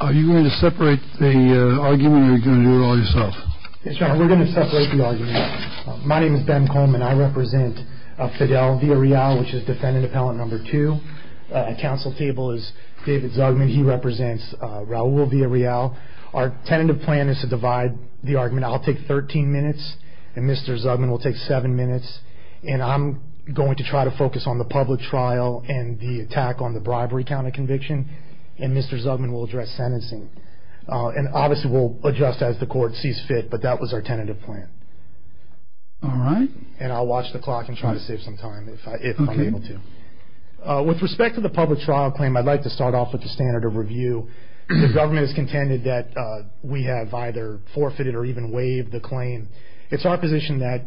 Are you going to separate the argument or are you going to do it all yourself? We're going to separate the argument. My name is Ben Coleman. I represent Fidel Villarreal, which is defendant appellant number two. At council table is David Zugman. He represents Raul Villarreal. Our tentative plan is to divide the argument. I'll take 13 minutes and Mr. Zugman will take 7 minutes. And I'm going to try to focus on the public trial and the attack on the bribery count of conviction. And Mr. Zugman will address sentencing. And obviously we'll adjust as the court sees fit, but that was our tentative plan. All right. And I'll watch the clock and try to save some time if I'm able to. With respect to the public trial claim, I'd like to start off with the standard of review. The government has contended that we have either forfeited or even waived the claim. It's our position that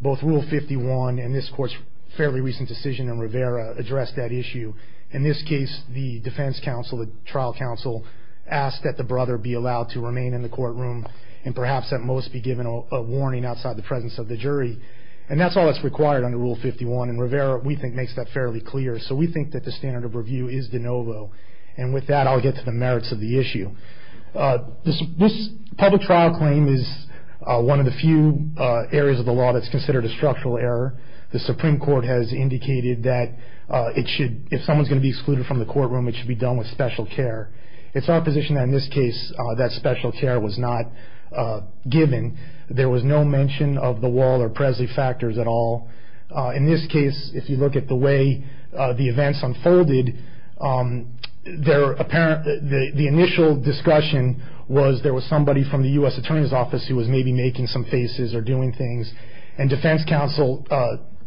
both Rule 51 and this court's fairly recent decision in Rivera addressed that issue. In this case, the defense counsel, the trial counsel, asked that the brother be allowed to remain in the courtroom and perhaps at most be given a warning outside the presence of the jury. And that's all that's required under Rule 51, and Rivera, we think, makes that fairly clear. So we think that the standard of review is de novo. And with that, I'll get to the merits of the issue. This public trial claim is one of the few areas of the law that's considered a structural error. The Supreme Court has indicated that it should, if someone's going to be excluded from the courtroom, it should be done with special care. It's our position that in this case that special care was not given. There was no mention of the Wall or Presley factors at all. In this case, if you look at the way the events unfolded, the initial discussion was there was somebody from the U.S. Attorney's Office who was maybe making some faces or doing things, and defense counsel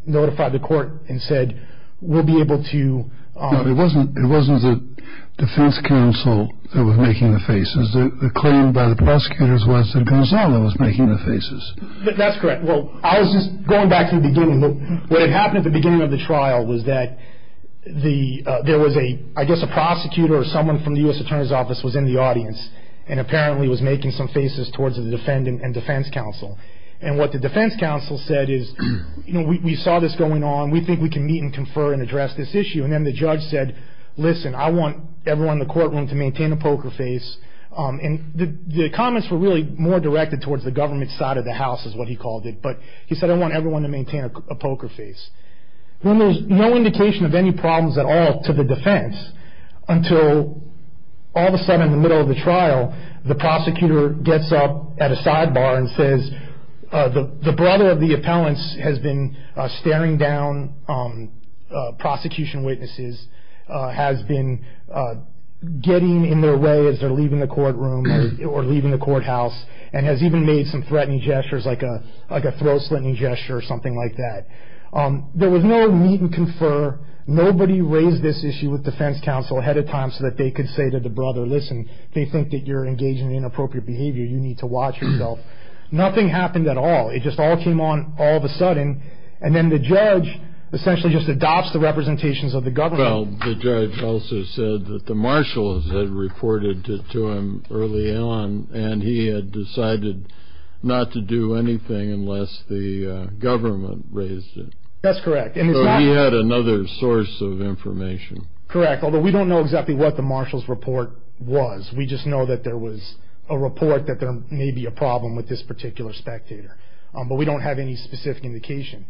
notified the court and said, we'll be able to. It wasn't the defense counsel that was making the faces. The claim by the prosecutors was that Gonzalo was making the faces. That's correct. Well, I was just going back to the beginning. What had happened at the beginning of the trial was that there was a, I guess, a prosecutor or someone from the U.S. Attorney's Office was in the audience and apparently was making some faces towards the defendant and defense counsel. And what the defense counsel said is, you know, we saw this going on. We think we can meet and confer and address this issue. And then the judge said, listen, I want everyone in the courtroom to maintain a poker face. And the comments were really more directed towards the government side of the house is what he called it. But he said, I want everyone to maintain a poker face. There was no indication of any problems at all to the defense until all of a sudden in the middle of the trial, the prosecutor gets up at a sidebar and says, the brother of the appellant has been staring down prosecution witnesses, has been getting in their way as they're leaving the courtroom or leaving the courthouse, and has even made some threatening gestures like a throat-slitting gesture or something like that. There was no meet and confer. Nobody raised this issue with defense counsel ahead of time so that they could say to the brother, listen, they think that you're engaging in inappropriate behavior. You need to watch yourself. Nothing happened at all. It just all came on all of a sudden. And then the judge essentially just adopts the representations of the government. Well, the judge also said that the marshals had reported it to him early on, and he had decided not to do anything unless the government raised it. That's correct. So he had another source of information. Correct, although we don't know exactly what the marshal's report was. We just know that there was a report that there may be a problem with this particular spectator. But we don't have any specific indication.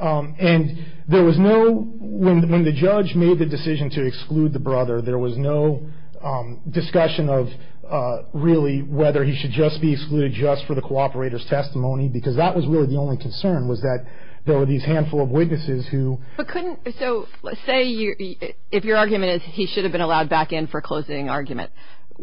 And there was no, when the judge made the decision to exclude the brother, there was no discussion of really whether he should just be excluded just for the cooperator's testimony, because that was really the only concern was that there were these handful of witnesses who. But couldn't, so let's say if your argument is he should have been allowed back in for closing argument,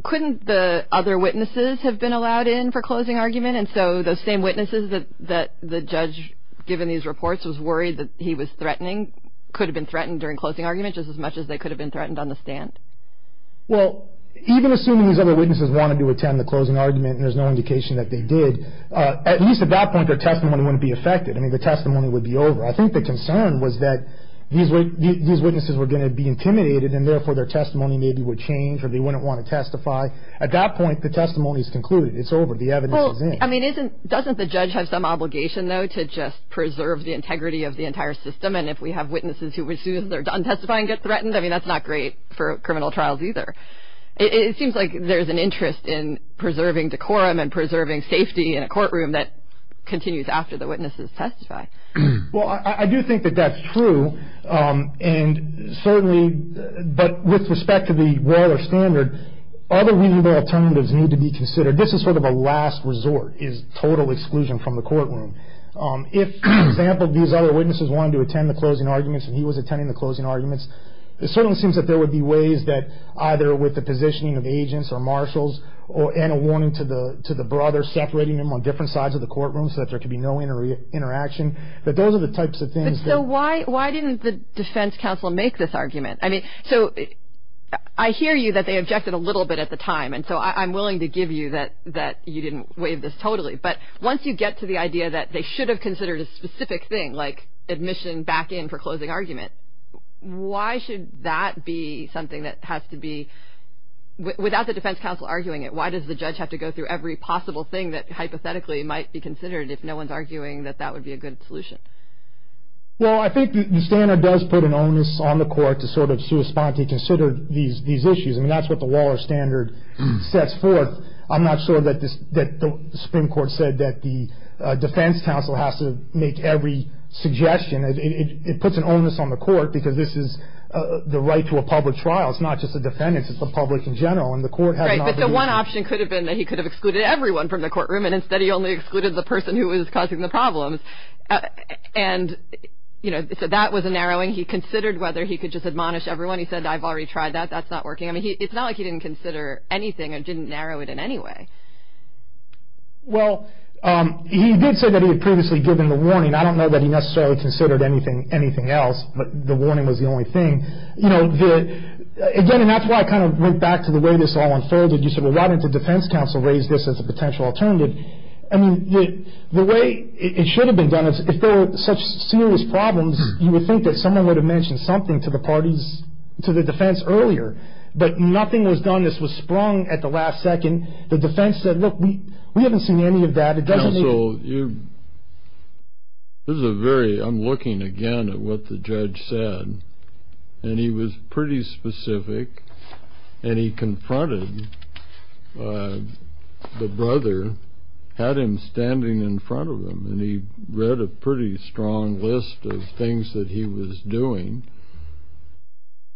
couldn't the other witnesses have been allowed in for closing argument? And so those same witnesses that the judge, given these reports, was worried that he was threatening, could have been threatened during closing argument just as much as they could have been threatened on the stand? Well, even assuming these other witnesses wanted to attend the closing argument, and there's no indication that they did, at least at that point their testimony wouldn't be affected. I mean, the testimony would be over. I think the concern was that these witnesses were going to be intimidated, and therefore their testimony maybe would change or they wouldn't want to testify. At that point, the testimony is concluded. It's over. The evidence is in. Well, I mean, doesn't the judge have some obligation, though, to just preserve the integrity of the entire system, and if we have witnesses who, as soon as they're done testifying, get threatened, I mean, that's not great for criminal trials either. It seems like there's an interest in preserving decorum and preserving safety in a courtroom that continues after the witnesses testify. Well, I do think that that's true, and certainly, but with respect to the Waller Standard, other reasonable alternatives need to be considered. This is sort of a last resort is total exclusion from the courtroom. If, for example, these other witnesses wanted to attend the closing arguments and he was attending the closing arguments, it certainly seems that there would be ways that either with the positioning of agents or marshals and a warning to the brothers separating them on different sides of the courtroom so that there could be no interaction, that those are the types of things that... So why didn't the defense counsel make this argument? I mean, so I hear you that they objected a little bit at the time, and so I'm willing to give you that you didn't waive this totally, but once you get to the idea that they should have considered a specific thing, like admission back in for closing argument, why should that be something that has to be, without the defense counsel arguing it, why does the judge have to go through every possible thing that hypothetically might be considered if no one's arguing that that would be a good solution? Well, I think the standard does put an onus on the court to sort of correspond to consider these issues, and that's what the Waller standard sets forth. I'm not sure that the Supreme Court said that the defense counsel has to make every suggestion. It puts an onus on the court because this is the right to a public trial. It's not just the defendants. It's the public in general, and the court has not... Right, but the one option could have been that he could have excluded everyone from the courtroom, and instead he only excluded the person who was causing the problems. And, you know, so that was a narrowing. He considered whether he could just admonish everyone. He said, I've already tried that. That's not working. I mean, it's not like he didn't consider anything and didn't narrow it in any way. Well, he did say that he had previously given the warning. I don't know that he necessarily considered anything else, but the warning was the only thing. You know, again, and that's why I kind of went back to the way this all unfolded. You said, well, why didn't the defense counsel raise this as a potential alternative? I mean, the way it should have been done, if there were such serious problems, you would think that someone would have mentioned something to the parties... to the defense earlier. But nothing was done. This was sprung at the last second. The defense said, look, we haven't seen any of that. It doesn't mean... Counsel, you... This is a very... I'm looking again at what the judge said, and he was pretty specific, and he confronted the brother, had him standing in front of him, and he read a pretty strong list of things that he was doing,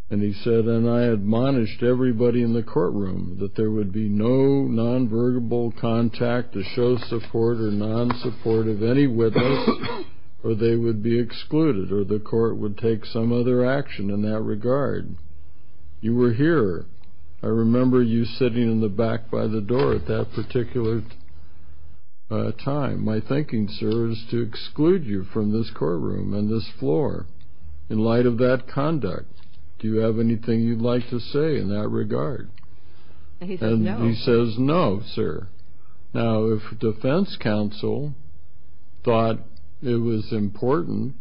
and he said, and I admonished everybody in the courtroom that there would be no nonverbal contact to show support or nonsupport of any witness, or they would be excluded, or the court would take some other action in that regard. You were here. I remember you sitting in the back by the door at that particular time. My thinking, sir, is to exclude you from this courtroom and this floor in light of that conduct. Do you have anything you'd like to say in that regard? And he said, no. And he says, no, sir. Now, if defense counsel thought it was important,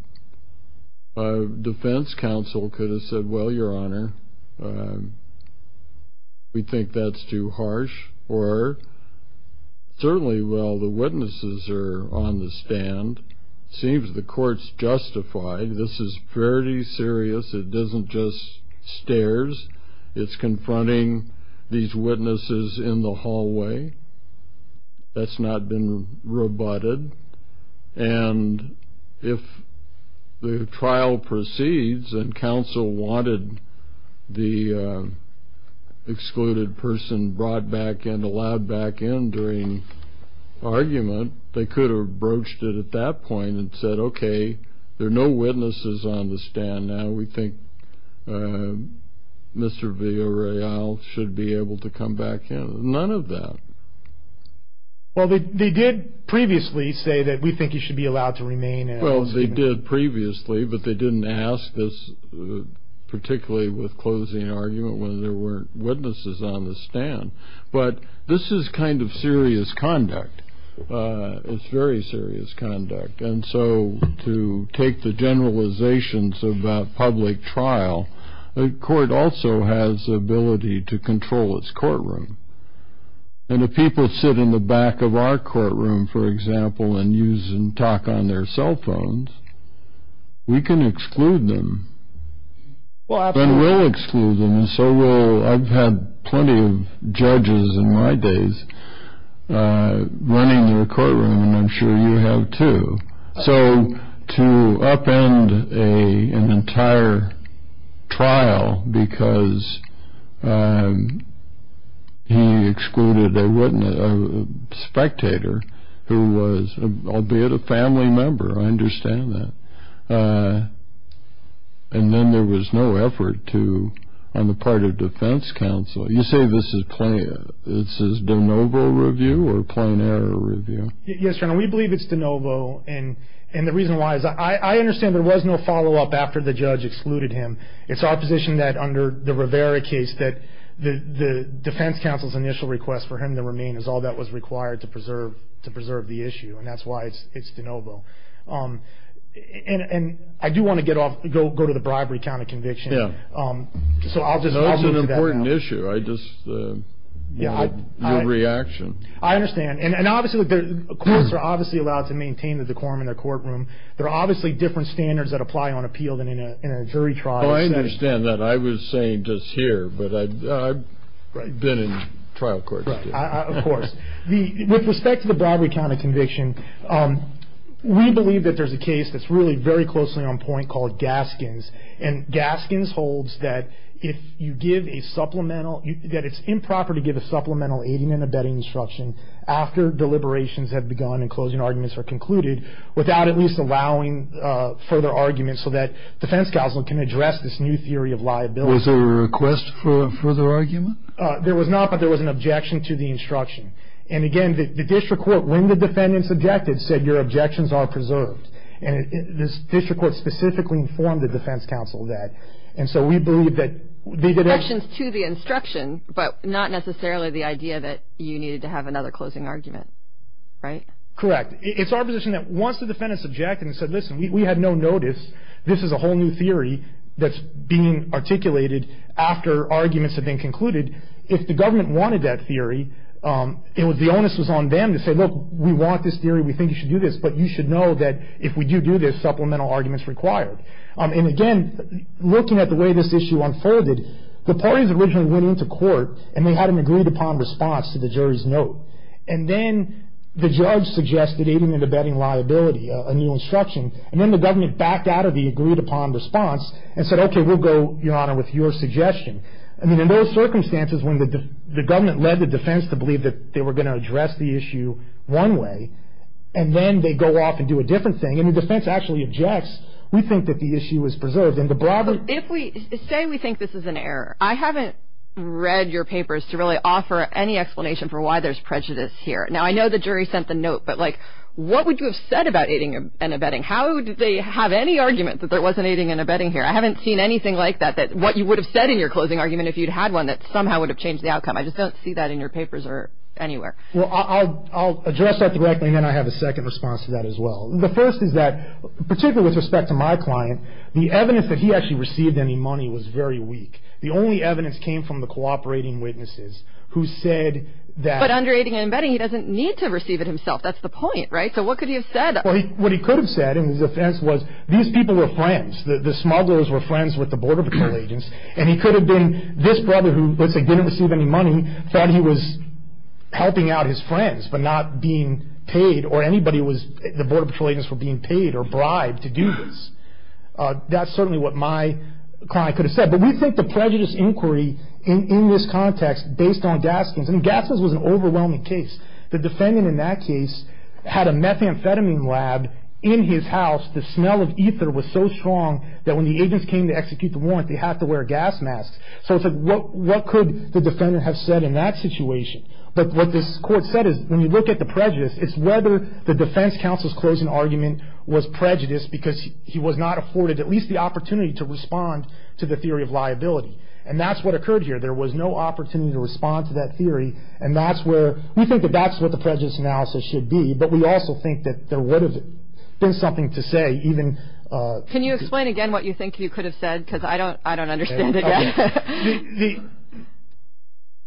defense counsel could have said, well, Your Honor, we think that's too harsh, or certainly, well, the witnesses are on the stand. It seems the court's justified. This is very serious. It isn't just stares. It's confronting these witnesses in the hallway. That's not been rebutted. And if the trial proceeds and counsel wanted the excluded person brought back and allowed back in during argument, they could have broached it at that point and said, okay, there are no witnesses on the stand now. We think Mr. Villareal should be able to come back in. None of that. Well, they did previously say that we think he should be allowed to remain. Well, they did previously, but they didn't ask this, particularly with closing argument, when there weren't witnesses on the stand. But this is kind of serious conduct. It's very serious conduct. And so to take the generalizations about public trial, the court also has the ability to control its courtroom. And if people sit in the back of our courtroom, for example, and use and talk on their cell phones, we can exclude them. And we'll exclude them. I've had plenty of judges in my days running their courtroom, and I'm sure you have too. So to upend an entire trial because he excluded a spectator, albeit a family member, I understand that. And then there was no effort on the part of defense counsel. You say this is de novo review or plain error review? Yes, Your Honor, we believe it's de novo. And the reason why is I understand there was no follow-up after the judge excluded him. It's our position that under the Rivera case that the defense counsel's initial request for him to remain is all that was required to preserve the issue, and that's why it's de novo. And I do want to go to the bribery count of conviction. Yeah. So I'll just move to that now. No, it's an important issue. I just want your reaction. I understand. And courts are obviously allowed to maintain the decorum in their courtroom. There are obviously different standards that apply on appeal than in a jury trial. I understand that. I was saying just here, but I've been in trial courts too. Of course. With respect to the bribery count of conviction, we believe that there's a case that's really very closely on point called Gaskins. And Gaskins holds that if you give a supplemental, that it's improper to give a supplemental aiding and abetting instruction after deliberations have begun and closing arguments are concluded without at least allowing further argument so that defense counsel can address this new theory of liability. Was there a request for a further argument? There was not, but there was an objection to the instruction. And, again, the district court, when the defendants objected, said your objections are preserved. And this district court specifically informed the defense counsel of that. And so we believe that they did it. Objections to the instruction, but not necessarily the idea that you needed to have another closing argument, right? Correct. It's our position that once the defendants objected and said, listen, we had no notice, this is a whole new theory that's being articulated after arguments have been concluded, if the government wanted that theory, the onus was on them to say, look, we want this theory, we think you should do this, but you should know that if we do do this, supplemental argument is required. And, again, looking at the way this issue unfolded, the parties originally went into court and they had an agreed-upon response to the jury's note. And then the judge suggested aiding and abetting liability, a new instruction, and then the government backed out of the agreed-upon response and said, okay, we'll go, Your Honor, with your suggestion. I mean, in those circumstances when the government led the defense to believe that they were going to address the issue one way, and then they go off and do a different thing and the defense actually objects, we think that the issue is preserved. If we say we think this is an error, I haven't read your papers to really offer any explanation for why there's prejudice here. Now, I know the jury sent the note, but, like, what would you have said about aiding and abetting? How did they have any argument that there wasn't aiding and abetting here? I haven't seen anything like that that what you would have said in your closing argument if you'd had one that somehow would have changed the outcome. I just don't see that in your papers or anywhere. Well, I'll address that directly and then I have a second response to that as well. The first is that, particularly with respect to my client, the evidence that he actually received any money was very weak. The only evidence came from the cooperating witnesses who said that But under aiding and abetting he doesn't need to receive it himself. That's the point, right? So what could he have said? What he could have said in his defense was these people were friends. The smugglers were friends with the border patrol agents. And he could have been this brother who, let's say, didn't receive any money, thought he was helping out his friends but not being paid or anybody was, the border patrol agents were being paid or bribed to do this. That's certainly what my client could have said. But we think the prejudice inquiry in this context based on Gaskins, and Gaskins was an overwhelming case. The defendant in that case had a methamphetamine lab in his house. The smell of ether was so strong that when the agents came to execute the warrant, they had to wear gas masks. So what could the defendant have said in that situation? But what this court said is when you look at the prejudice, it's whether the defense counsel's closing argument was prejudice because he was not afforded at least the opportunity to respond to the theory of liability. And that's what occurred here. There was no opportunity to respond to that theory. And that's where we think that that's what the prejudice analysis should be. But we also think that there would have been something to say even. Can you explain again what you think you could have said? Because I don't understand it yet.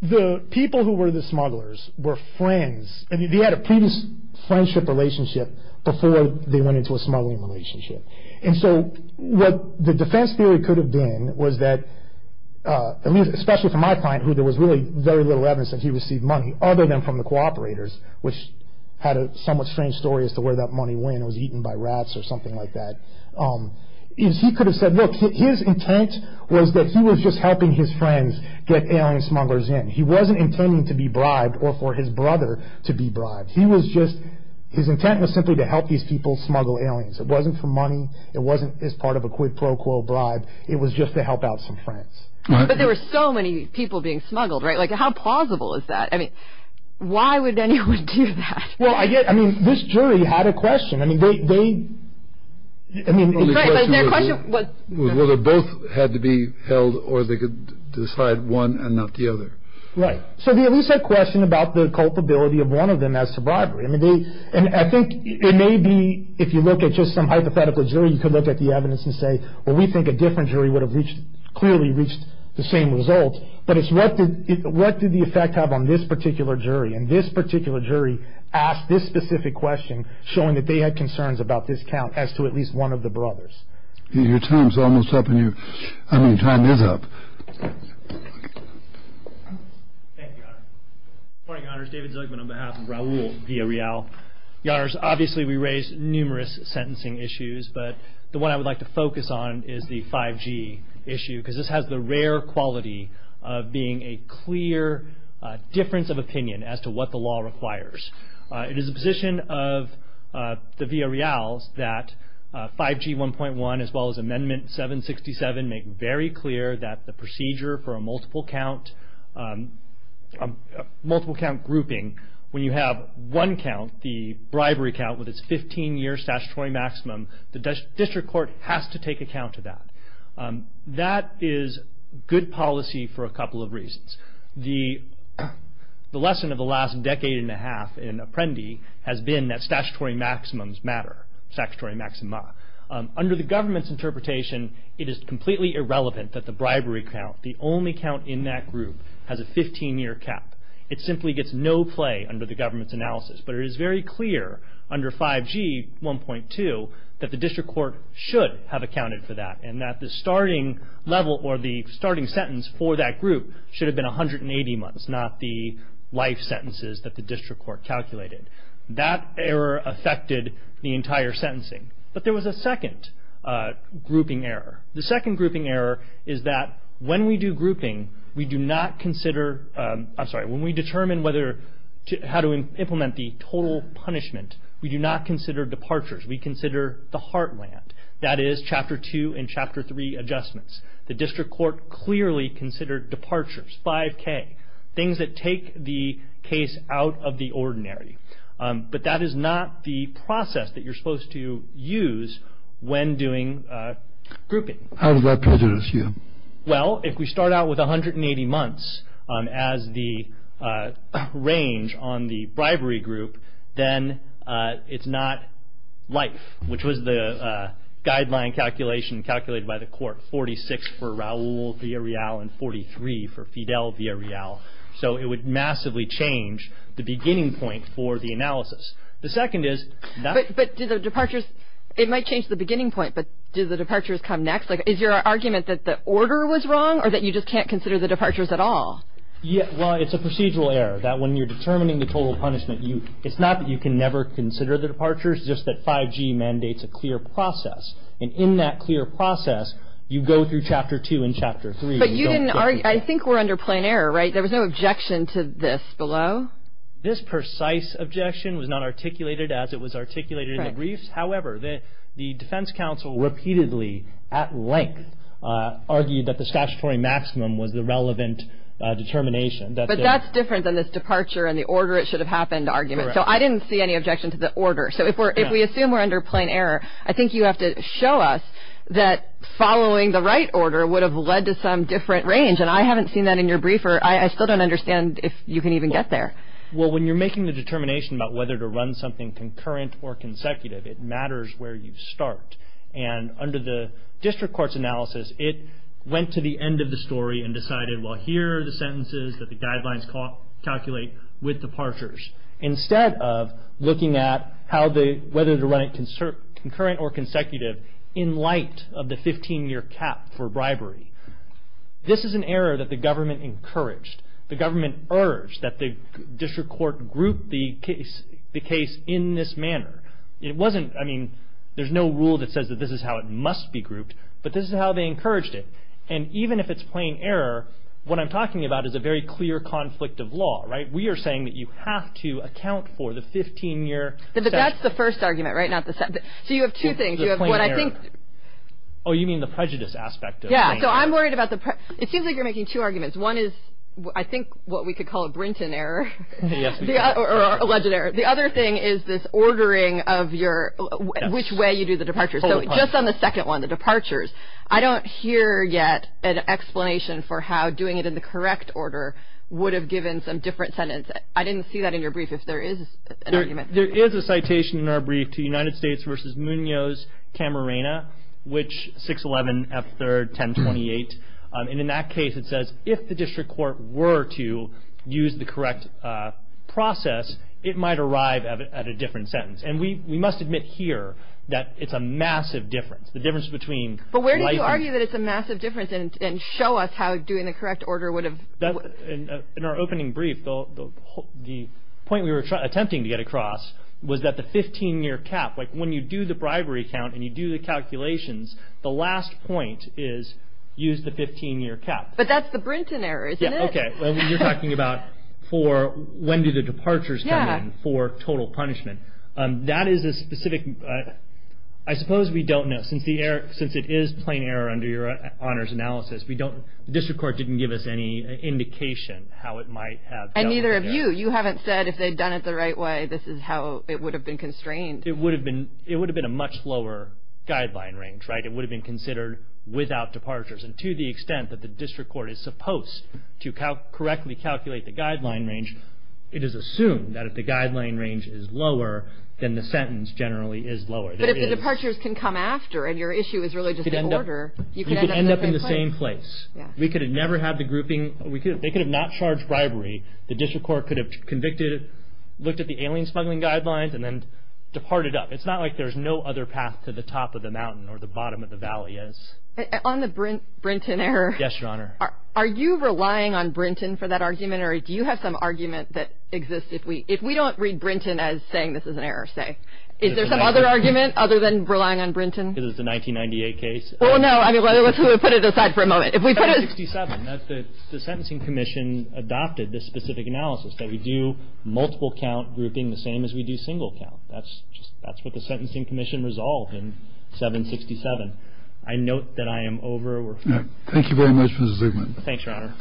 The people who were the smugglers were friends. They had a previous friendship relationship before they went into a smuggling relationship. And so what the defense theory could have been was that, especially for my client who there was really very little evidence that he received money, other than from the cooperators, which had a somewhat strange story as to where that money went. It was eaten by rats or something like that. He could have said, look, his intent was that he was just helping his friends get alien smugglers in. He wasn't intending to be bribed or for his brother to be bribed. He was just, his intent was simply to help these people smuggle aliens. It wasn't for money. It wasn't as part of a quid pro quo bribe. It was just to help out some friends. But there were so many people being smuggled, right? Like, how plausible is that? I mean, why would anyone do that? Well, I get, I mean, this jury had a question. I mean, they, they, I mean. Right, but their question was. Was whether both had to be held or they could decide one and not the other. Right. So they at least had a question about the culpability of one of them as to bribery. I mean, they, and I think it may be, if you look at just some hypothetical jury, you could look at the evidence and say, well, we think a different jury would have reached, clearly reached the same result. But it's what did, what did the effect have on this particular jury? And this particular jury asked this specific question, showing that they had concerns about this count as to at least one of the brothers. Your time's almost up, and your, I mean, your time is up. Thank you, Your Honor. Good morning, Your Honors. David Zilkman on behalf of Raul Villarreal. Your Honors, obviously we raised numerous sentencing issues, but the one I would like to focus on is the 5G issue. Because this has the rare quality of being a clear difference of opinion as to what the law requires. It is the position of the Villarreal's that 5G 1.1, as well as Amendment 767, make very clear that the procedure for a multiple count, multiple count grouping, when you have one count, the bribery count, with its 15-year statutory maximum, the district court has to take account of that. That is good policy for a couple of reasons. The lesson of the last decade and a half in Apprendi has been that statutory maximums matter, statutory maxima. Under the government's interpretation, it is completely irrelevant that the bribery count, the only count in that group, has a 15-year cap. It simply gets no play under the government's analysis. But it is very clear under 5G 1.2 that the district court should have accounted for that, and that the starting level or the starting sentence for that group should have been 180 months, not the life sentences that the district court calculated. That error affected the entire sentencing. But there was a second grouping error. The second grouping error is that when we do grouping, we do not consider, I'm sorry, when we determine how to implement the total punishment, we do not consider departures. We consider the heartland. That is Chapter 2 and Chapter 3 adjustments. The district court clearly considered departures, 5K, things that take the case out of the ordinary. But that is not the process that you're supposed to use when doing grouping. How does that prejudice you? Well, if we start out with 180 months as the range on the bribery group, then it's not life, which was the guideline calculation calculated by the court, 46 for Raul Villarreal and 43 for Fidel Villarreal. So it would massively change the beginning point for the analysis. The second is- But do the departures, it might change the beginning point, but do the departures come next? Is your argument that the order was wrong or that you just can't consider the departures at all? Well, it's a procedural error that when you're determining the total punishment, it's not that you can never consider the departures, just that 5G mandates a clear process. And in that clear process, you go through Chapter 2 and Chapter 3. But I think we're under plain error, right? There was no objection to this below? This precise objection was not articulated as it was articulated in the briefs. However, the defense counsel repeatedly, at length, argued that the statutory maximum was the relevant determination. But that's different than this departure and the order it should have happened argument. So I didn't see any objection to the order. So if we assume we're under plain error, I think you have to show us that following the right order would have led to some different range. And I haven't seen that in your briefer. I still don't understand if you can even get there. Well, when you're making the determination about whether to run something concurrent or consecutive, it matters where you start. And under the district court's analysis, it went to the end of the story and decided, well, here are the sentences that the guidelines calculate with departures, instead of looking at whether to run it concurrent or consecutive in light of the 15-year cap for bribery. This is an error that the government encouraged. The government urged that the district court group the case in this manner. It wasn't, I mean, there's no rule that says that this is how it must be grouped, but this is how they encouraged it. And even if it's plain error, what I'm talking about is a very clear conflict of law, right? We are saying that you have to account for the 15-year. That's the first argument, right, not the second. So you have two things. You have what I think. Oh, you mean the prejudice aspect. Yeah. So I'm worried about the prejudice. It seems like you're making two arguments. One is, I think, what we could call a Brinton error or alleged error. The other thing is this ordering of which way you do the departure. So just on the second one, the departures, I don't hear yet an explanation for how doing it in the correct order would have given some different sentence. I didn't see that in your brief, if there is an argument. There is a citation in our brief to United States v. Munoz, Camarena, which 611 F. 3rd, 1028. And in that case, it says if the district court were to use the correct process, it might arrive at a different sentence. And we must admit here that it's a massive difference, the difference between. But where do you argue that it's a massive difference and show us how doing the correct order would have. In our opening brief, the point we were attempting to get across was that the 15-year cap, like when you do the bribery count and you do the calculations, the last point is use the 15-year cap. But that's the Brinton error, isn't it? Okay. You're talking about for when do the departures come in for total punishment. That is a specific. I suppose we don't know. Since it is plain error under your honors analysis, the district court didn't give us any indication how it might have. And neither have you. You haven't said if they'd done it the right way, this is how it would have been constrained. It would have been a much lower guideline range, right? It would have been considered without departures. And to the extent that the district court is supposed to correctly calculate the guideline range, it is assumed that if the guideline range is lower, then the sentence generally is lower. But if the departures can come after and your issue is really just the order, you could end up in the same place. We could have never had the grouping. They could have not charged bribery. The district court could have convicted, looked at the alien smuggling guidelines, and then departed up. It's not like there's no other path to the top of the mountain or the bottom of the valley is. On the Brinton error. Yes, Your Honor. Are you relying on Brinton for that argument, or do you have some argument that exists if we don't read Brinton as saying this is an error, say? Is there some other argument other than relying on Brinton? Because it's a 1998 case? Well, no. I mean, let's put it aside for a moment. 767. The Sentencing Commission adopted this specific analysis, that we do multiple count grouping the same as we do single count. That's what the Sentencing Commission resolved in 767. I note that I am over. Thank you very much, Mr. Zubman. Thanks, Your Honor.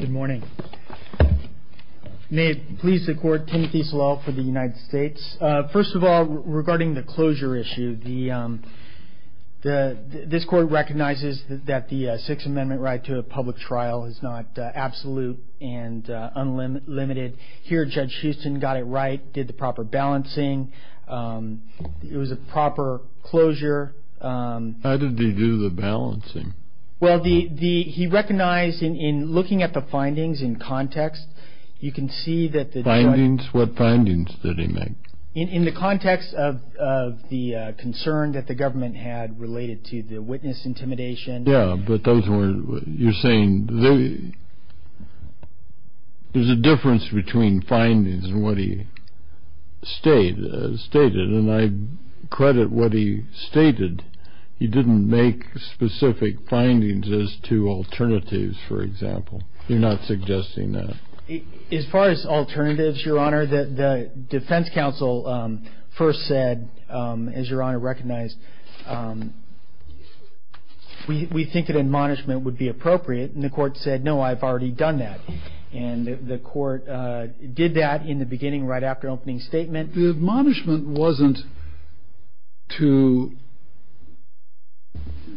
Good morning. May it please the Court, Timothy Slaw for the United States. First of all, regarding the closure issue, this Court recognizes that the Sixth Amendment right to a public trial is not absolute and unlimited. Here, Judge Houston got it right, did the proper balancing. It was a proper closure. How did he do the balancing? Well, he recognized in looking at the findings in context, you can see that the judge Findings? What findings did he make? In the context of the concern that the government had related to the witness intimidation. Yeah, but you're saying there's a difference between findings and what he stated. And I credit what he stated. He didn't make specific findings as to alternatives, for example. You're not suggesting that? As far as alternatives, Your Honor, the defense counsel first said, as Your Honor recognized, We think that admonishment would be appropriate. And the court said, no, I've already done that. And the court did that in the beginning right after opening statement. The admonishment wasn't to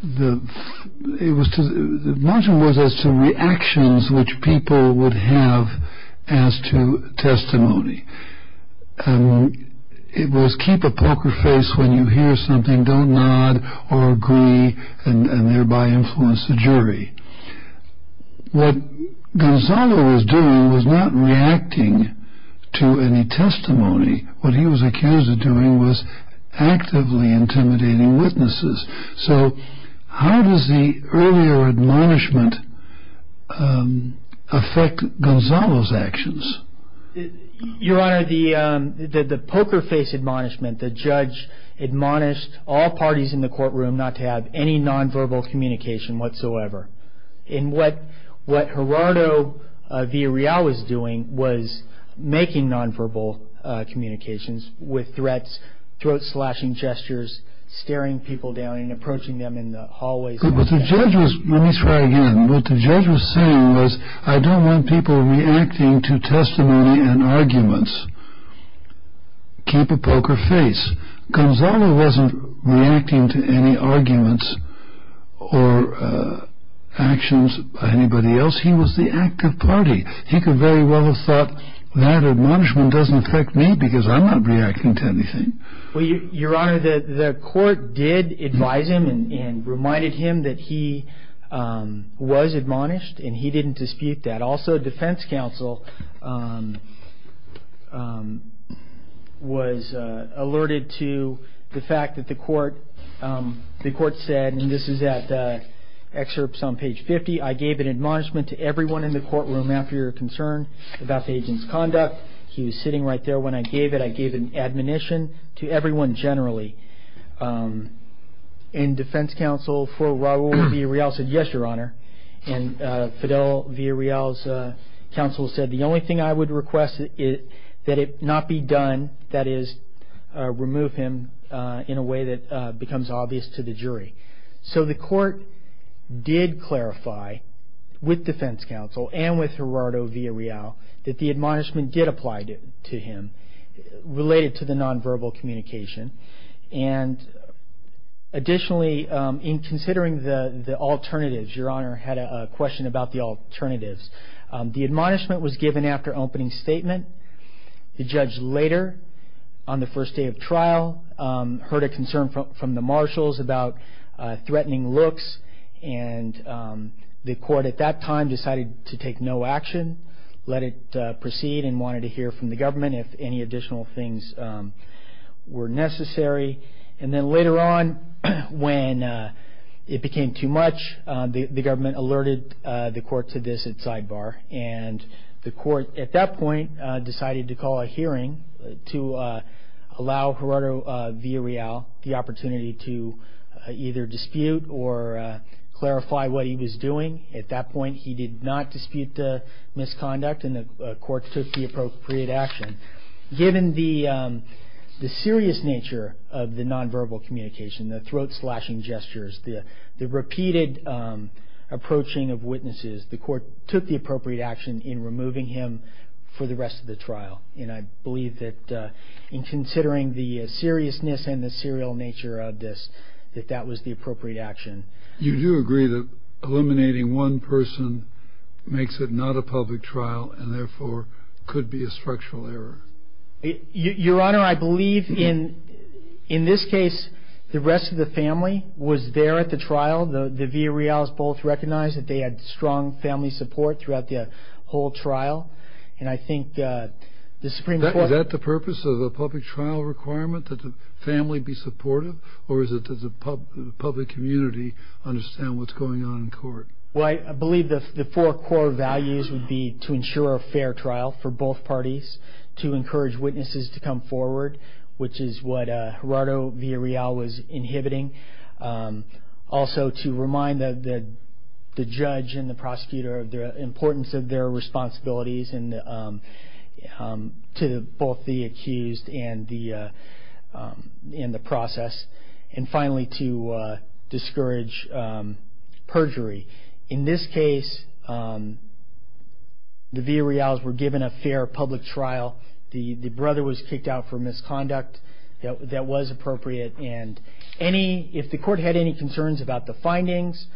the, it was to, the admonishment was as to reactions which people would have as to testimony. It was keep a poker face when you hear something, don't nod or agree and thereby influence the jury. What Gonzalo was doing was not reacting to any testimony. What he was accused of doing was actively intimidating witnesses. So how does the earlier admonishment affect Gonzalo's actions? Your Honor, the poker face admonishment, the judge admonished all parties in the courtroom not to have any nonverbal communication whatsoever. And what Gerardo Villarreal was doing was making nonverbal communications with threats, throat slashing gestures, staring people down and approaching them in the hallways. Let me try again. What the judge was saying was, I don't want people reacting to testimony and arguments. Keep a poker face. Gonzalo wasn't reacting to any arguments or actions by anybody else. He was the active party. He could very well have thought, that admonishment doesn't affect me because I'm not reacting to anything. Your Honor, the court did advise him and reminded him that he was admonished and he didn't dispute that. Also, defense counsel was alerted to the fact that the court said, and this is at excerpts on page 50, I gave an admonishment to everyone in the courtroom after your concern about the agent's conduct. He was sitting right there. When I gave it, I gave an admonition to everyone generally. And defense counsel for Raul Villarreal said, yes, your Honor. And Fidel Villarreal's counsel said, the only thing I would request is that it not be done, that is, remove him in a way that becomes obvious to the jury. So the court did clarify, with defense counsel and with Gerardo Villarreal, that the admonishment did apply to him related to the nonverbal communication. And additionally, in considering the alternatives, your Honor had a question about the alternatives. The admonishment was given after opening statement. The judge later, on the first day of trial, heard a concern from the marshals about threatening looks. And the court at that time decided to take no action, let it proceed, and wanted to hear from the government if any additional things were necessary. And then later on, when it became too much, the government alerted the court to this at sidebar. And the court at that point decided to call a hearing to allow Gerardo Villarreal the opportunity to either dispute or clarify what he was doing. At that point, he did not dispute the misconduct, and the court took the appropriate action. Given the serious nature of the nonverbal communication, the throat-slashing gestures, the repeated approaching of witnesses, the court took the appropriate action in removing him for the rest of the trial. And I believe that in considering the seriousness and the serial nature of this, that that was the appropriate action. You do agree that eliminating one person makes it not a public trial and therefore could be a structural error? Your Honor, I believe in this case, the rest of the family was there at the trial. The Villarreal's both recognized that they had strong family support throughout the whole trial. And I think the Supreme Court... Is that the purpose of a public trial requirement, that the family be supportive? Or is it that the public community understand what's going on in court? Well, I believe the four core values would be to ensure a fair trial for both parties, to encourage witnesses to come forward, which is what Gerardo Villarreal was inhibiting, also to remind the judge and the prosecutor of the importance of their responsibilities to both the accused and the process, and finally to discourage perjury. In this case, the Villarreal's were given a fair public trial. The brother was kicked out for misconduct that was appropriate. And if the court had any concerns about the findings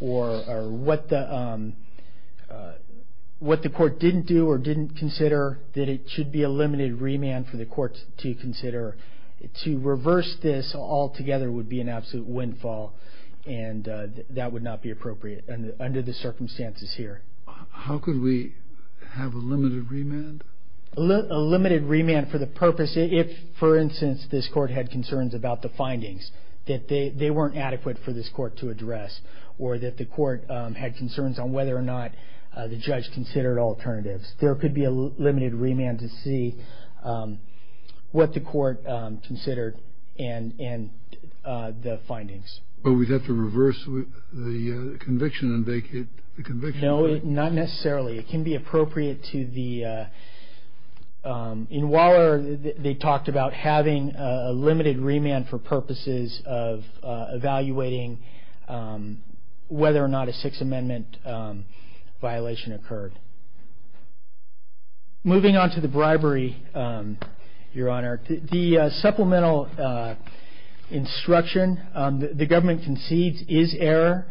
or what the court didn't do or didn't consider, that it should be a limited remand for the court to consider. To reverse this altogether would be an absolute windfall, and that would not be appropriate under the circumstances here. How could we have a limited remand? A limited remand for the purpose if, for instance, this court had concerns about the findings that they weren't adequate for this court to address, or that the court had concerns on whether or not the judge considered alternatives. There could be a limited remand to see what the court considered and the findings. But we'd have to reverse the conviction and vacate the conviction, right? No, not necessarily. It can be appropriate to the... In Waller they talked about having a limited remand for purposes of evaluating whether or not a Sixth Amendment violation occurred. Moving on to the bribery, Your Honor. The supplemental instruction the government concedes is error.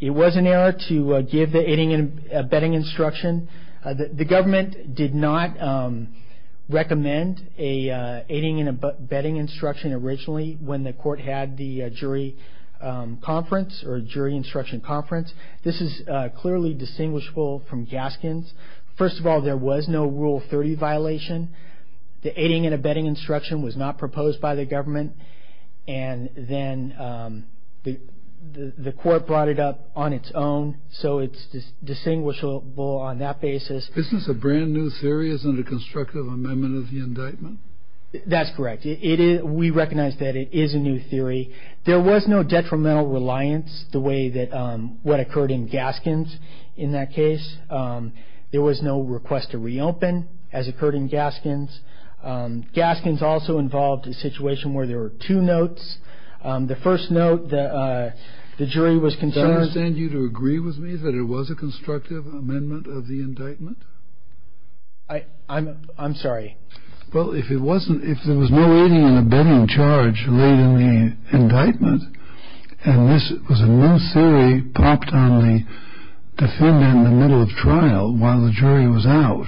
It was an error to give the aiding and abetting instruction. The government did not recommend aiding and abetting instruction originally when the court had the jury conference or jury instruction conference. This is clearly distinguishable from Gaskin's. First of all, there was no Rule 30 violation. The aiding and abetting instruction was not proposed by the government, and then the court brought it up on its own, so it's distinguishable on that basis. This is a brand-new series under constructive amendment of the indictment? That's correct. We recognize that it is a new theory. There was no detrimental reliance the way that what occurred in Gaskin's in that case. There was no request to reopen as occurred in Gaskin's. Gaskin's also involved a situation where there were two notes. The first note, the jury was concerned... I understand you to agree with me that it was a constructive amendment of the indictment? I'm sorry. Well, if there was no aiding and abetting charge laid in the indictment and this was a new theory popped on the defendant in the middle of trial while the jury was out,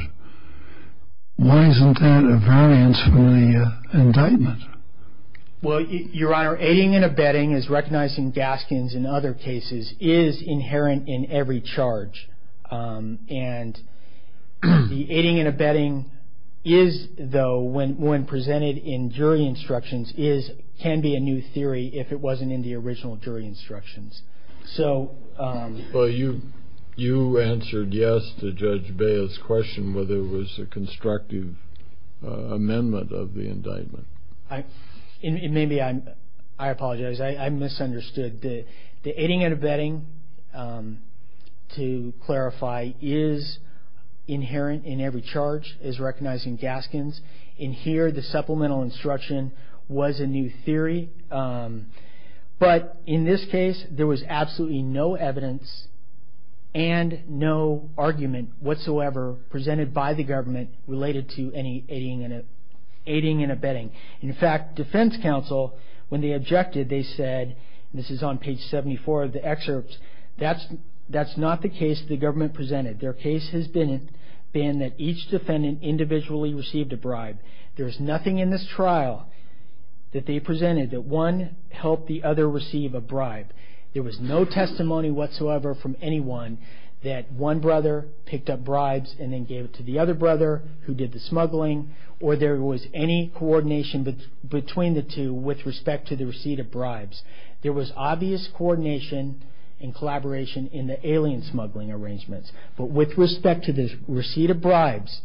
why isn't that a variance from the indictment? Well, Your Honor, aiding and abetting, as recognized in Gaskin's and other cases, is inherent in every charge. And the aiding and abetting is, though, when presented in jury instructions, can be a new theory if it wasn't in the original jury instructions. So... Well, you answered yes to Judge Baez's question whether it was a constructive amendment of the indictment. Maybe I'm... I apologize. I misunderstood. The aiding and abetting, to clarify, is inherent in every charge, as recognized in Gaskin's. And here, the supplemental instruction was a new theory. But in this case, there was absolutely no evidence and no argument whatsoever presented by the government related to any aiding and abetting. In fact, defense counsel, when they objected, they said, and this is on page 74 of the excerpts, that's not the case the government presented. Their case has been that each defendant individually received a bribe. There's nothing in this trial that they presented that one helped the other receive a bribe. There was no testimony whatsoever from anyone that one brother picked up bribes and then gave it to the other brother who did the smuggling or there was any coordination between the two with respect to the receipt of bribes. There was obvious coordination and collaboration in the alien smuggling arrangements. But with respect to the receipt of bribes,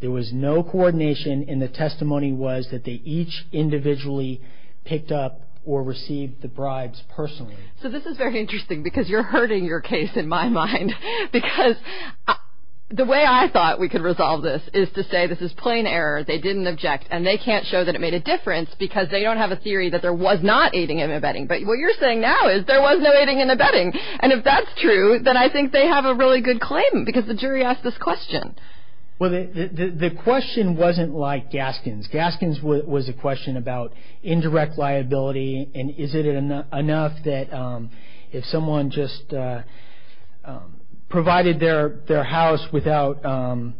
there was no coordination and the testimony was that they each individually picked up or received the bribes personally. So this is very interesting because you're hurting your case in my mind. Because the way I thought we could resolve this is to say this is plain error. They didn't object and they can't show that it made a difference because they don't have a theory that there was not aiding and abetting. But what you're saying now is there was no aiding and abetting. And if that's true, then I think they have a really good claim because the jury asked this question. Well, the question wasn't like Gaskin's. Gaskin's was a question about indirect liability. And is it enough that if someone just provided their house without allowing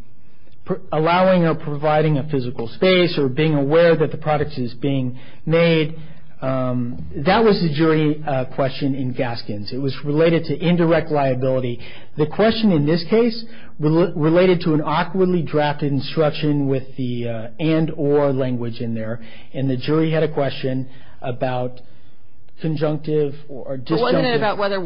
or providing a physical space or being aware that the product is being made, that was the jury question in Gaskin's. It was related to indirect liability. The question in this case related to an awkwardly drafted instruction with the and or language in there. And the jury had a question about conjunctive or disjunctive. Wasn't it about whether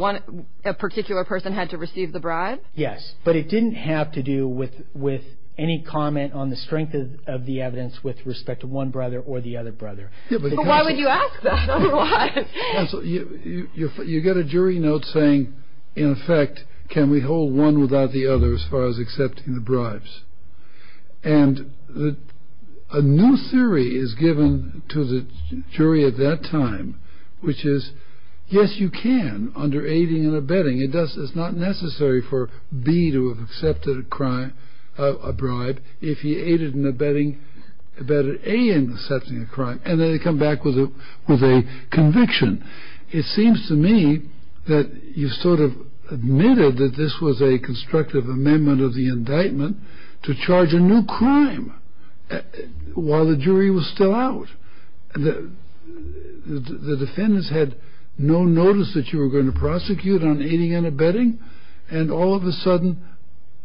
a particular person had to receive the bribe? Yes. But it didn't have to do with any comment on the strength of the evidence with respect to one brother or the other brother. Why would you ask that otherwise? You get a jury note saying, in effect, can we hold one without the other as far as accepting the bribes? And a new theory is given to the jury at that time, which is, yes, you can under aiding and abetting. It's not necessary for B to have accepted a crime, a bribe, if he aided in abetting, abetted A in accepting a crime. And then they come back with a conviction. It seems to me that you sort of admitted that this was a constructive amendment of the indictment to charge a new crime while the jury was still out. The defendants had no notice that you were going to prosecute on aiding and abetting. And all of a sudden,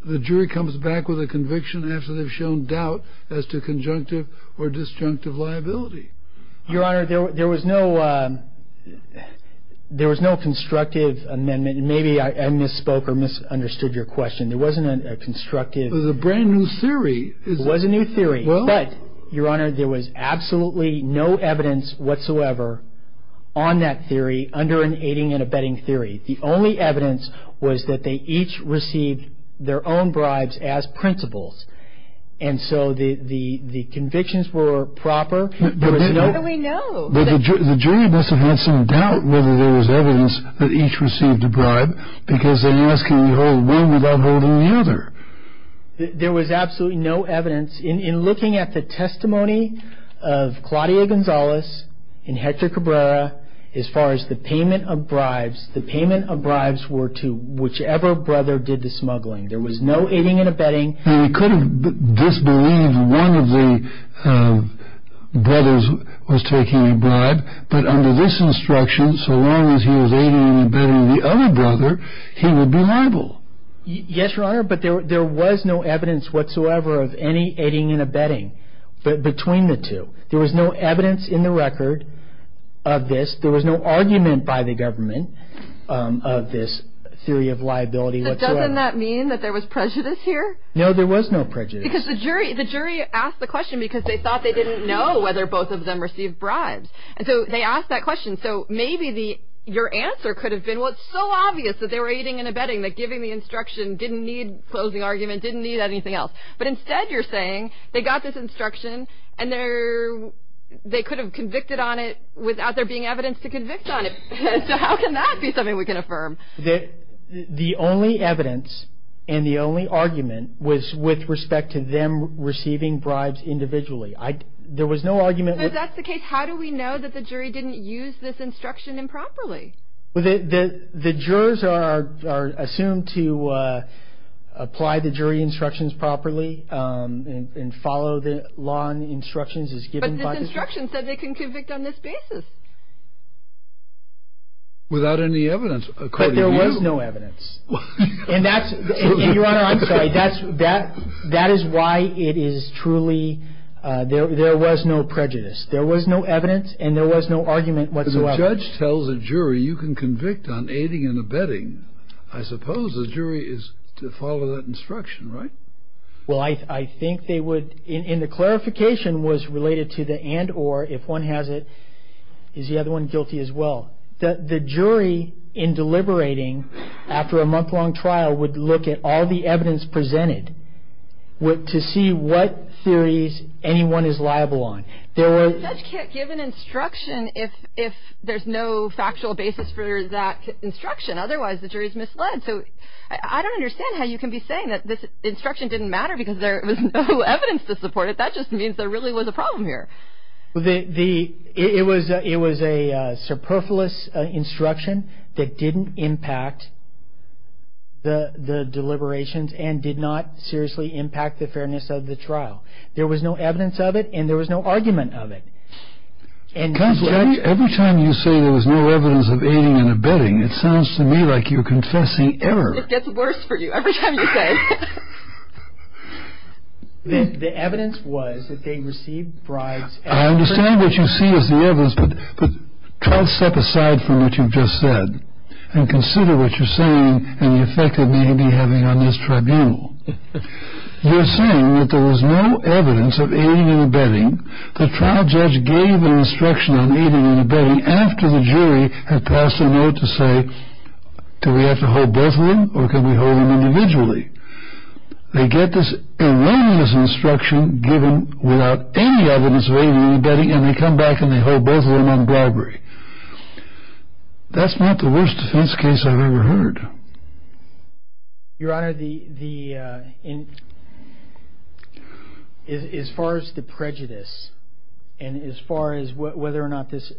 the jury comes back with a conviction after they've shown doubt as to conjunctive or disjunctive liability. Your Honor, there was no constructive amendment. Maybe I misspoke or misunderstood your question. There wasn't a constructive... It was a brand new theory. It was a new theory. But, Your Honor, there was absolutely no evidence whatsoever on that theory under an aiding and abetting theory. The only evidence was that they each received their own bribes as principles. And so the convictions were proper. How do we know? The jury must have had some doubt whether there was evidence that each received a bribe because they're asking the whole way without holding the other. There was absolutely no evidence. In looking at the testimony of Claudia Gonzalez and Hector Cabrera, as far as the payment of bribes, the payment of bribes were to whichever brother did the smuggling. There was no aiding and abetting. He could have disbelieved one of the brothers was taking a bribe, but under this instruction, so long as he was aiding and abetting the other brother, he would be liable. Yes, Your Honor, but there was no evidence whatsoever of any aiding and abetting between the two. There was no evidence in the record of this. There was no argument by the government of this theory of liability whatsoever. Doesn't that mean that there was prejudice here? No, there was no prejudice. Because the jury asked the question because they thought they didn't know whether both of them received bribes. And so they asked that question. So maybe your answer could have been, well, it's so obvious that they were aiding and abetting, that giving the instruction didn't need closing argument, didn't need anything else. But instead you're saying they got this instruction and they could have convicted on it without there being evidence to convict on it. So how can that be something we can affirm? The only evidence and the only argument was with respect to them receiving bribes individually. There was no argument. But if that's the case, how do we know that the jury didn't use this instruction improperly? The jurors are assumed to apply the jury instructions properly and follow the law and the instructions as given by the jury. But this instruction said they can convict on this basis. Without any evidence, according to you. But there was no evidence. And that's, Your Honor, I'm sorry. That is why it is truly, there was no prejudice. There was no evidence and there was no argument whatsoever. Because the judge tells a jury you can convict on aiding and abetting. I suppose the jury is to follow that instruction, right? Well, I think they would. And the clarification was related to the and or. If one has it, is the other one guilty as well? The jury in deliberating after a month-long trial would look at all the evidence presented to see what theories anyone is liable on. The judge can't give an instruction if there's no factual basis for that instruction. Otherwise, the jury is misled. So I don't understand how you can be saying that this instruction didn't matter because there was no evidence to support it. That just means there really was a problem here. It was a superfluous instruction that didn't impact the deliberations and did not seriously impact the fairness of the trial. There was no evidence of it and there was no argument of it. Every time you say there was no evidence of aiding and abetting, it sounds to me like you're confessing error. It gets worse for you every time you say it. The evidence was that they received bribes. I understand what you see as the evidence, but try to step aside from what you've just said and consider what you're saying and the effect it may be having on this tribunal. You're saying that there was no evidence of aiding and abetting. The trial judge gave an instruction on aiding and abetting after the jury had passed a note to say, do we have to hold both of them or can we hold them individually? They get this erroneous instruction given without any evidence of aiding and abetting and they come back and they hold both of them on bribery. That's not the worst defense case I've ever heard. Your Honor, as far as the prejudice and as far as whether or not this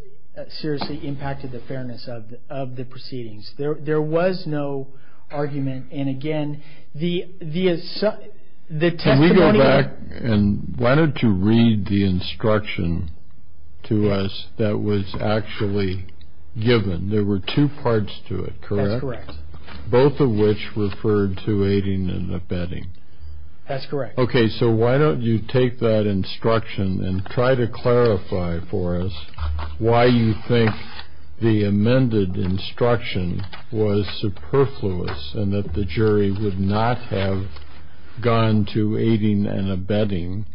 seriously impacted the fairness of the proceedings, there was no argument. And again, the testimony... Can we go back and why don't you read the instruction to us that was actually given? There were two parts to it, correct? That's correct. Both of which referred to aiding and abetting. That's correct. Okay, so why don't you take that instruction and try to clarify for us why you think the amended instruction was superfluous and that the jury would not have gone to aiding and abetting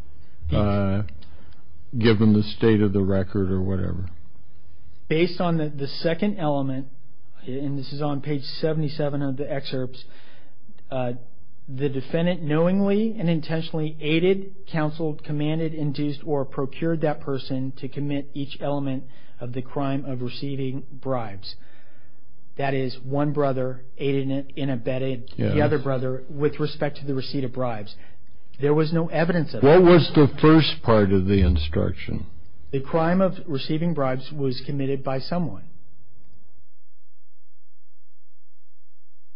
given the state of the record or whatever. Based on the second element, and this is on page 77 of the excerpts, the defendant knowingly and intentionally aided, counseled, commanded, induced, or procured that person to commit each element of the crime of receiving bribes. That is, one brother aided and abetted the other brother with respect to the receipt of bribes. There was no evidence of that. What was the first part of the instruction? The crime of receiving bribes was committed by someone.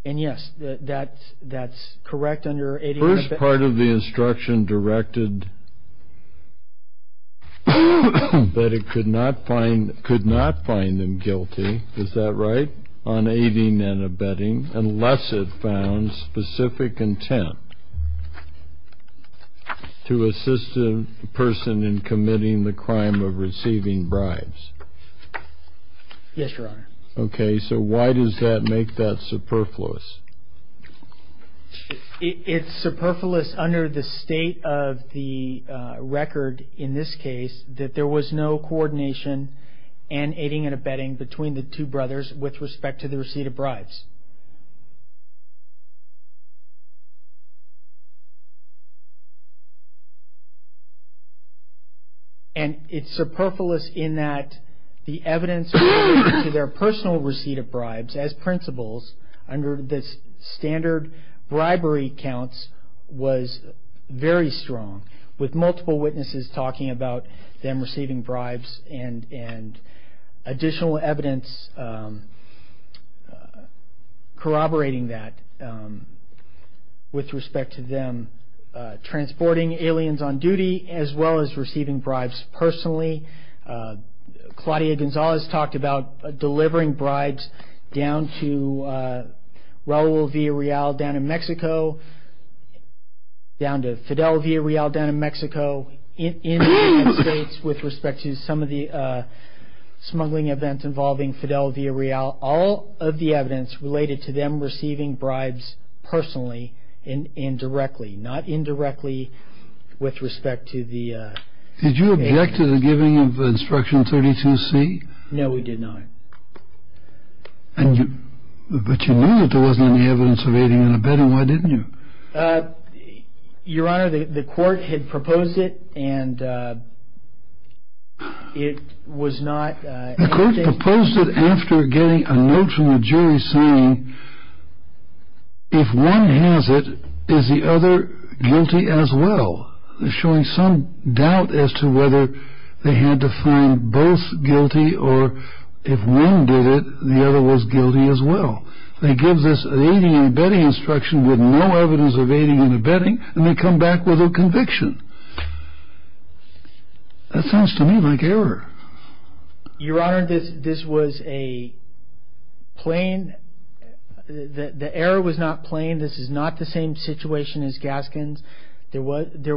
And yes, that's correct under aiding and abetting. The first part of the instruction directed that it could not find them guilty. Is that right? Yes, Your Honor. Okay, so why does that make that superfluous? It's superfluous under the state of the record in this case that there was no coordination in aiding and abetting between the two brothers with respect to the receipt of bribes. And it's superfluous in that the evidence related to their personal receipt of bribes as principles under the standard bribery counts was very strong, with multiple witnesses talking about them receiving bribes corroborating that with respect to them transporting aliens on duty as well as receiving bribes personally. Claudia Gonzalez talked about delivering bribes down to Raul Villareal down in Mexico, down to Fidel Villareal down in Mexico, in the United States with respect to some of the smuggling events involving Fidel Villareal. All of the evidence related to them receiving bribes personally and indirectly, not indirectly with respect to the... Did you object to the giving of Instruction 32C? No, we did not. But you knew that there wasn't any evidence of aiding and abetting. Why didn't you? Your Honor, the court had proposed it and it was not... The court proposed it after getting a note from the jury saying, if one has it, is the other guilty as well? Showing some doubt as to whether they had to find both guilty or if one did it, the other was guilty as well. They give this aiding and abetting instruction with no evidence of aiding and abetting and they come back with a conviction. That sounds to me like error. Your Honor, this was a plain... The error was not plain. This is not the same situation as Gaskin's. There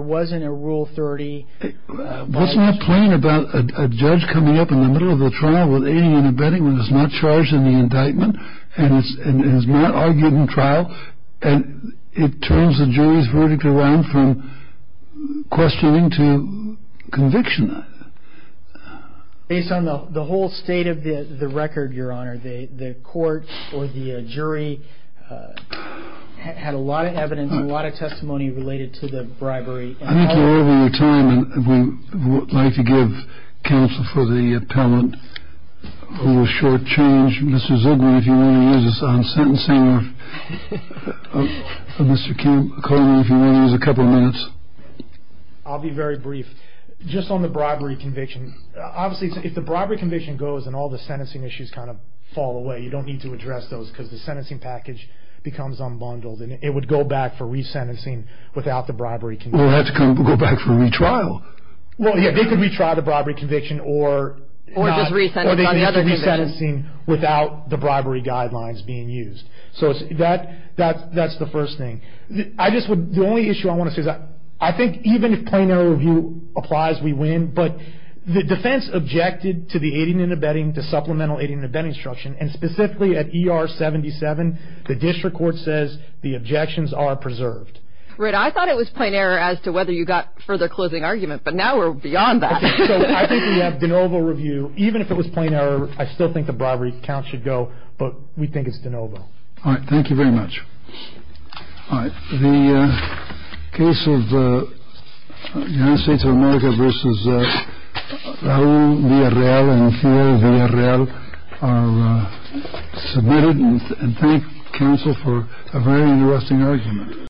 wasn't a Rule 30... What's not plain about a judge coming up in the middle of the trial with aiding and abetting when he's not charged in the indictment and has not argued in trial and it turns the jury's verdict around from questioning to conviction. Based on the whole state of the record, Your Honor, the court or the jury had a lot of evidence, a lot of testimony related to the bribery. I think you're over your time and we would like to give counsel for the appellant a little short change. Mr. Ziegler, if you want to use us on sentencing. Mr. Koehler, if you want to use a couple of minutes. I'll be very brief. Just on the bribery conviction, obviously if the bribery conviction goes and all the sentencing issues kind of fall away, you don't need to address those because the sentencing package becomes unbundled and it would go back for resentencing without the bribery conviction. It would have to go back for retrial. Well, yeah, they could retry the bribery conviction or not. Or just resentencing on the other conviction. Or they could get to resentencing without the bribery guidelines being used. So that's the first thing. The only issue I want to say is I think even if plain error review applies, we win, but the defense objected to the aiding and abetting, to supplemental aiding and abetting instruction, and specifically at ER 77 the district court says the objections are preserved. Rid, I thought it was plain error as to whether you got further closing argument, but now we're beyond that. I think we have de novo review. Even if it was plain error, I still think the bribery count should go, but we think it's de novo. All right, thank you very much. All right, the case of the United States of America versus Raul Villarreal and Ophelia Villarreal are submitted and thank counsel for a very interesting argument.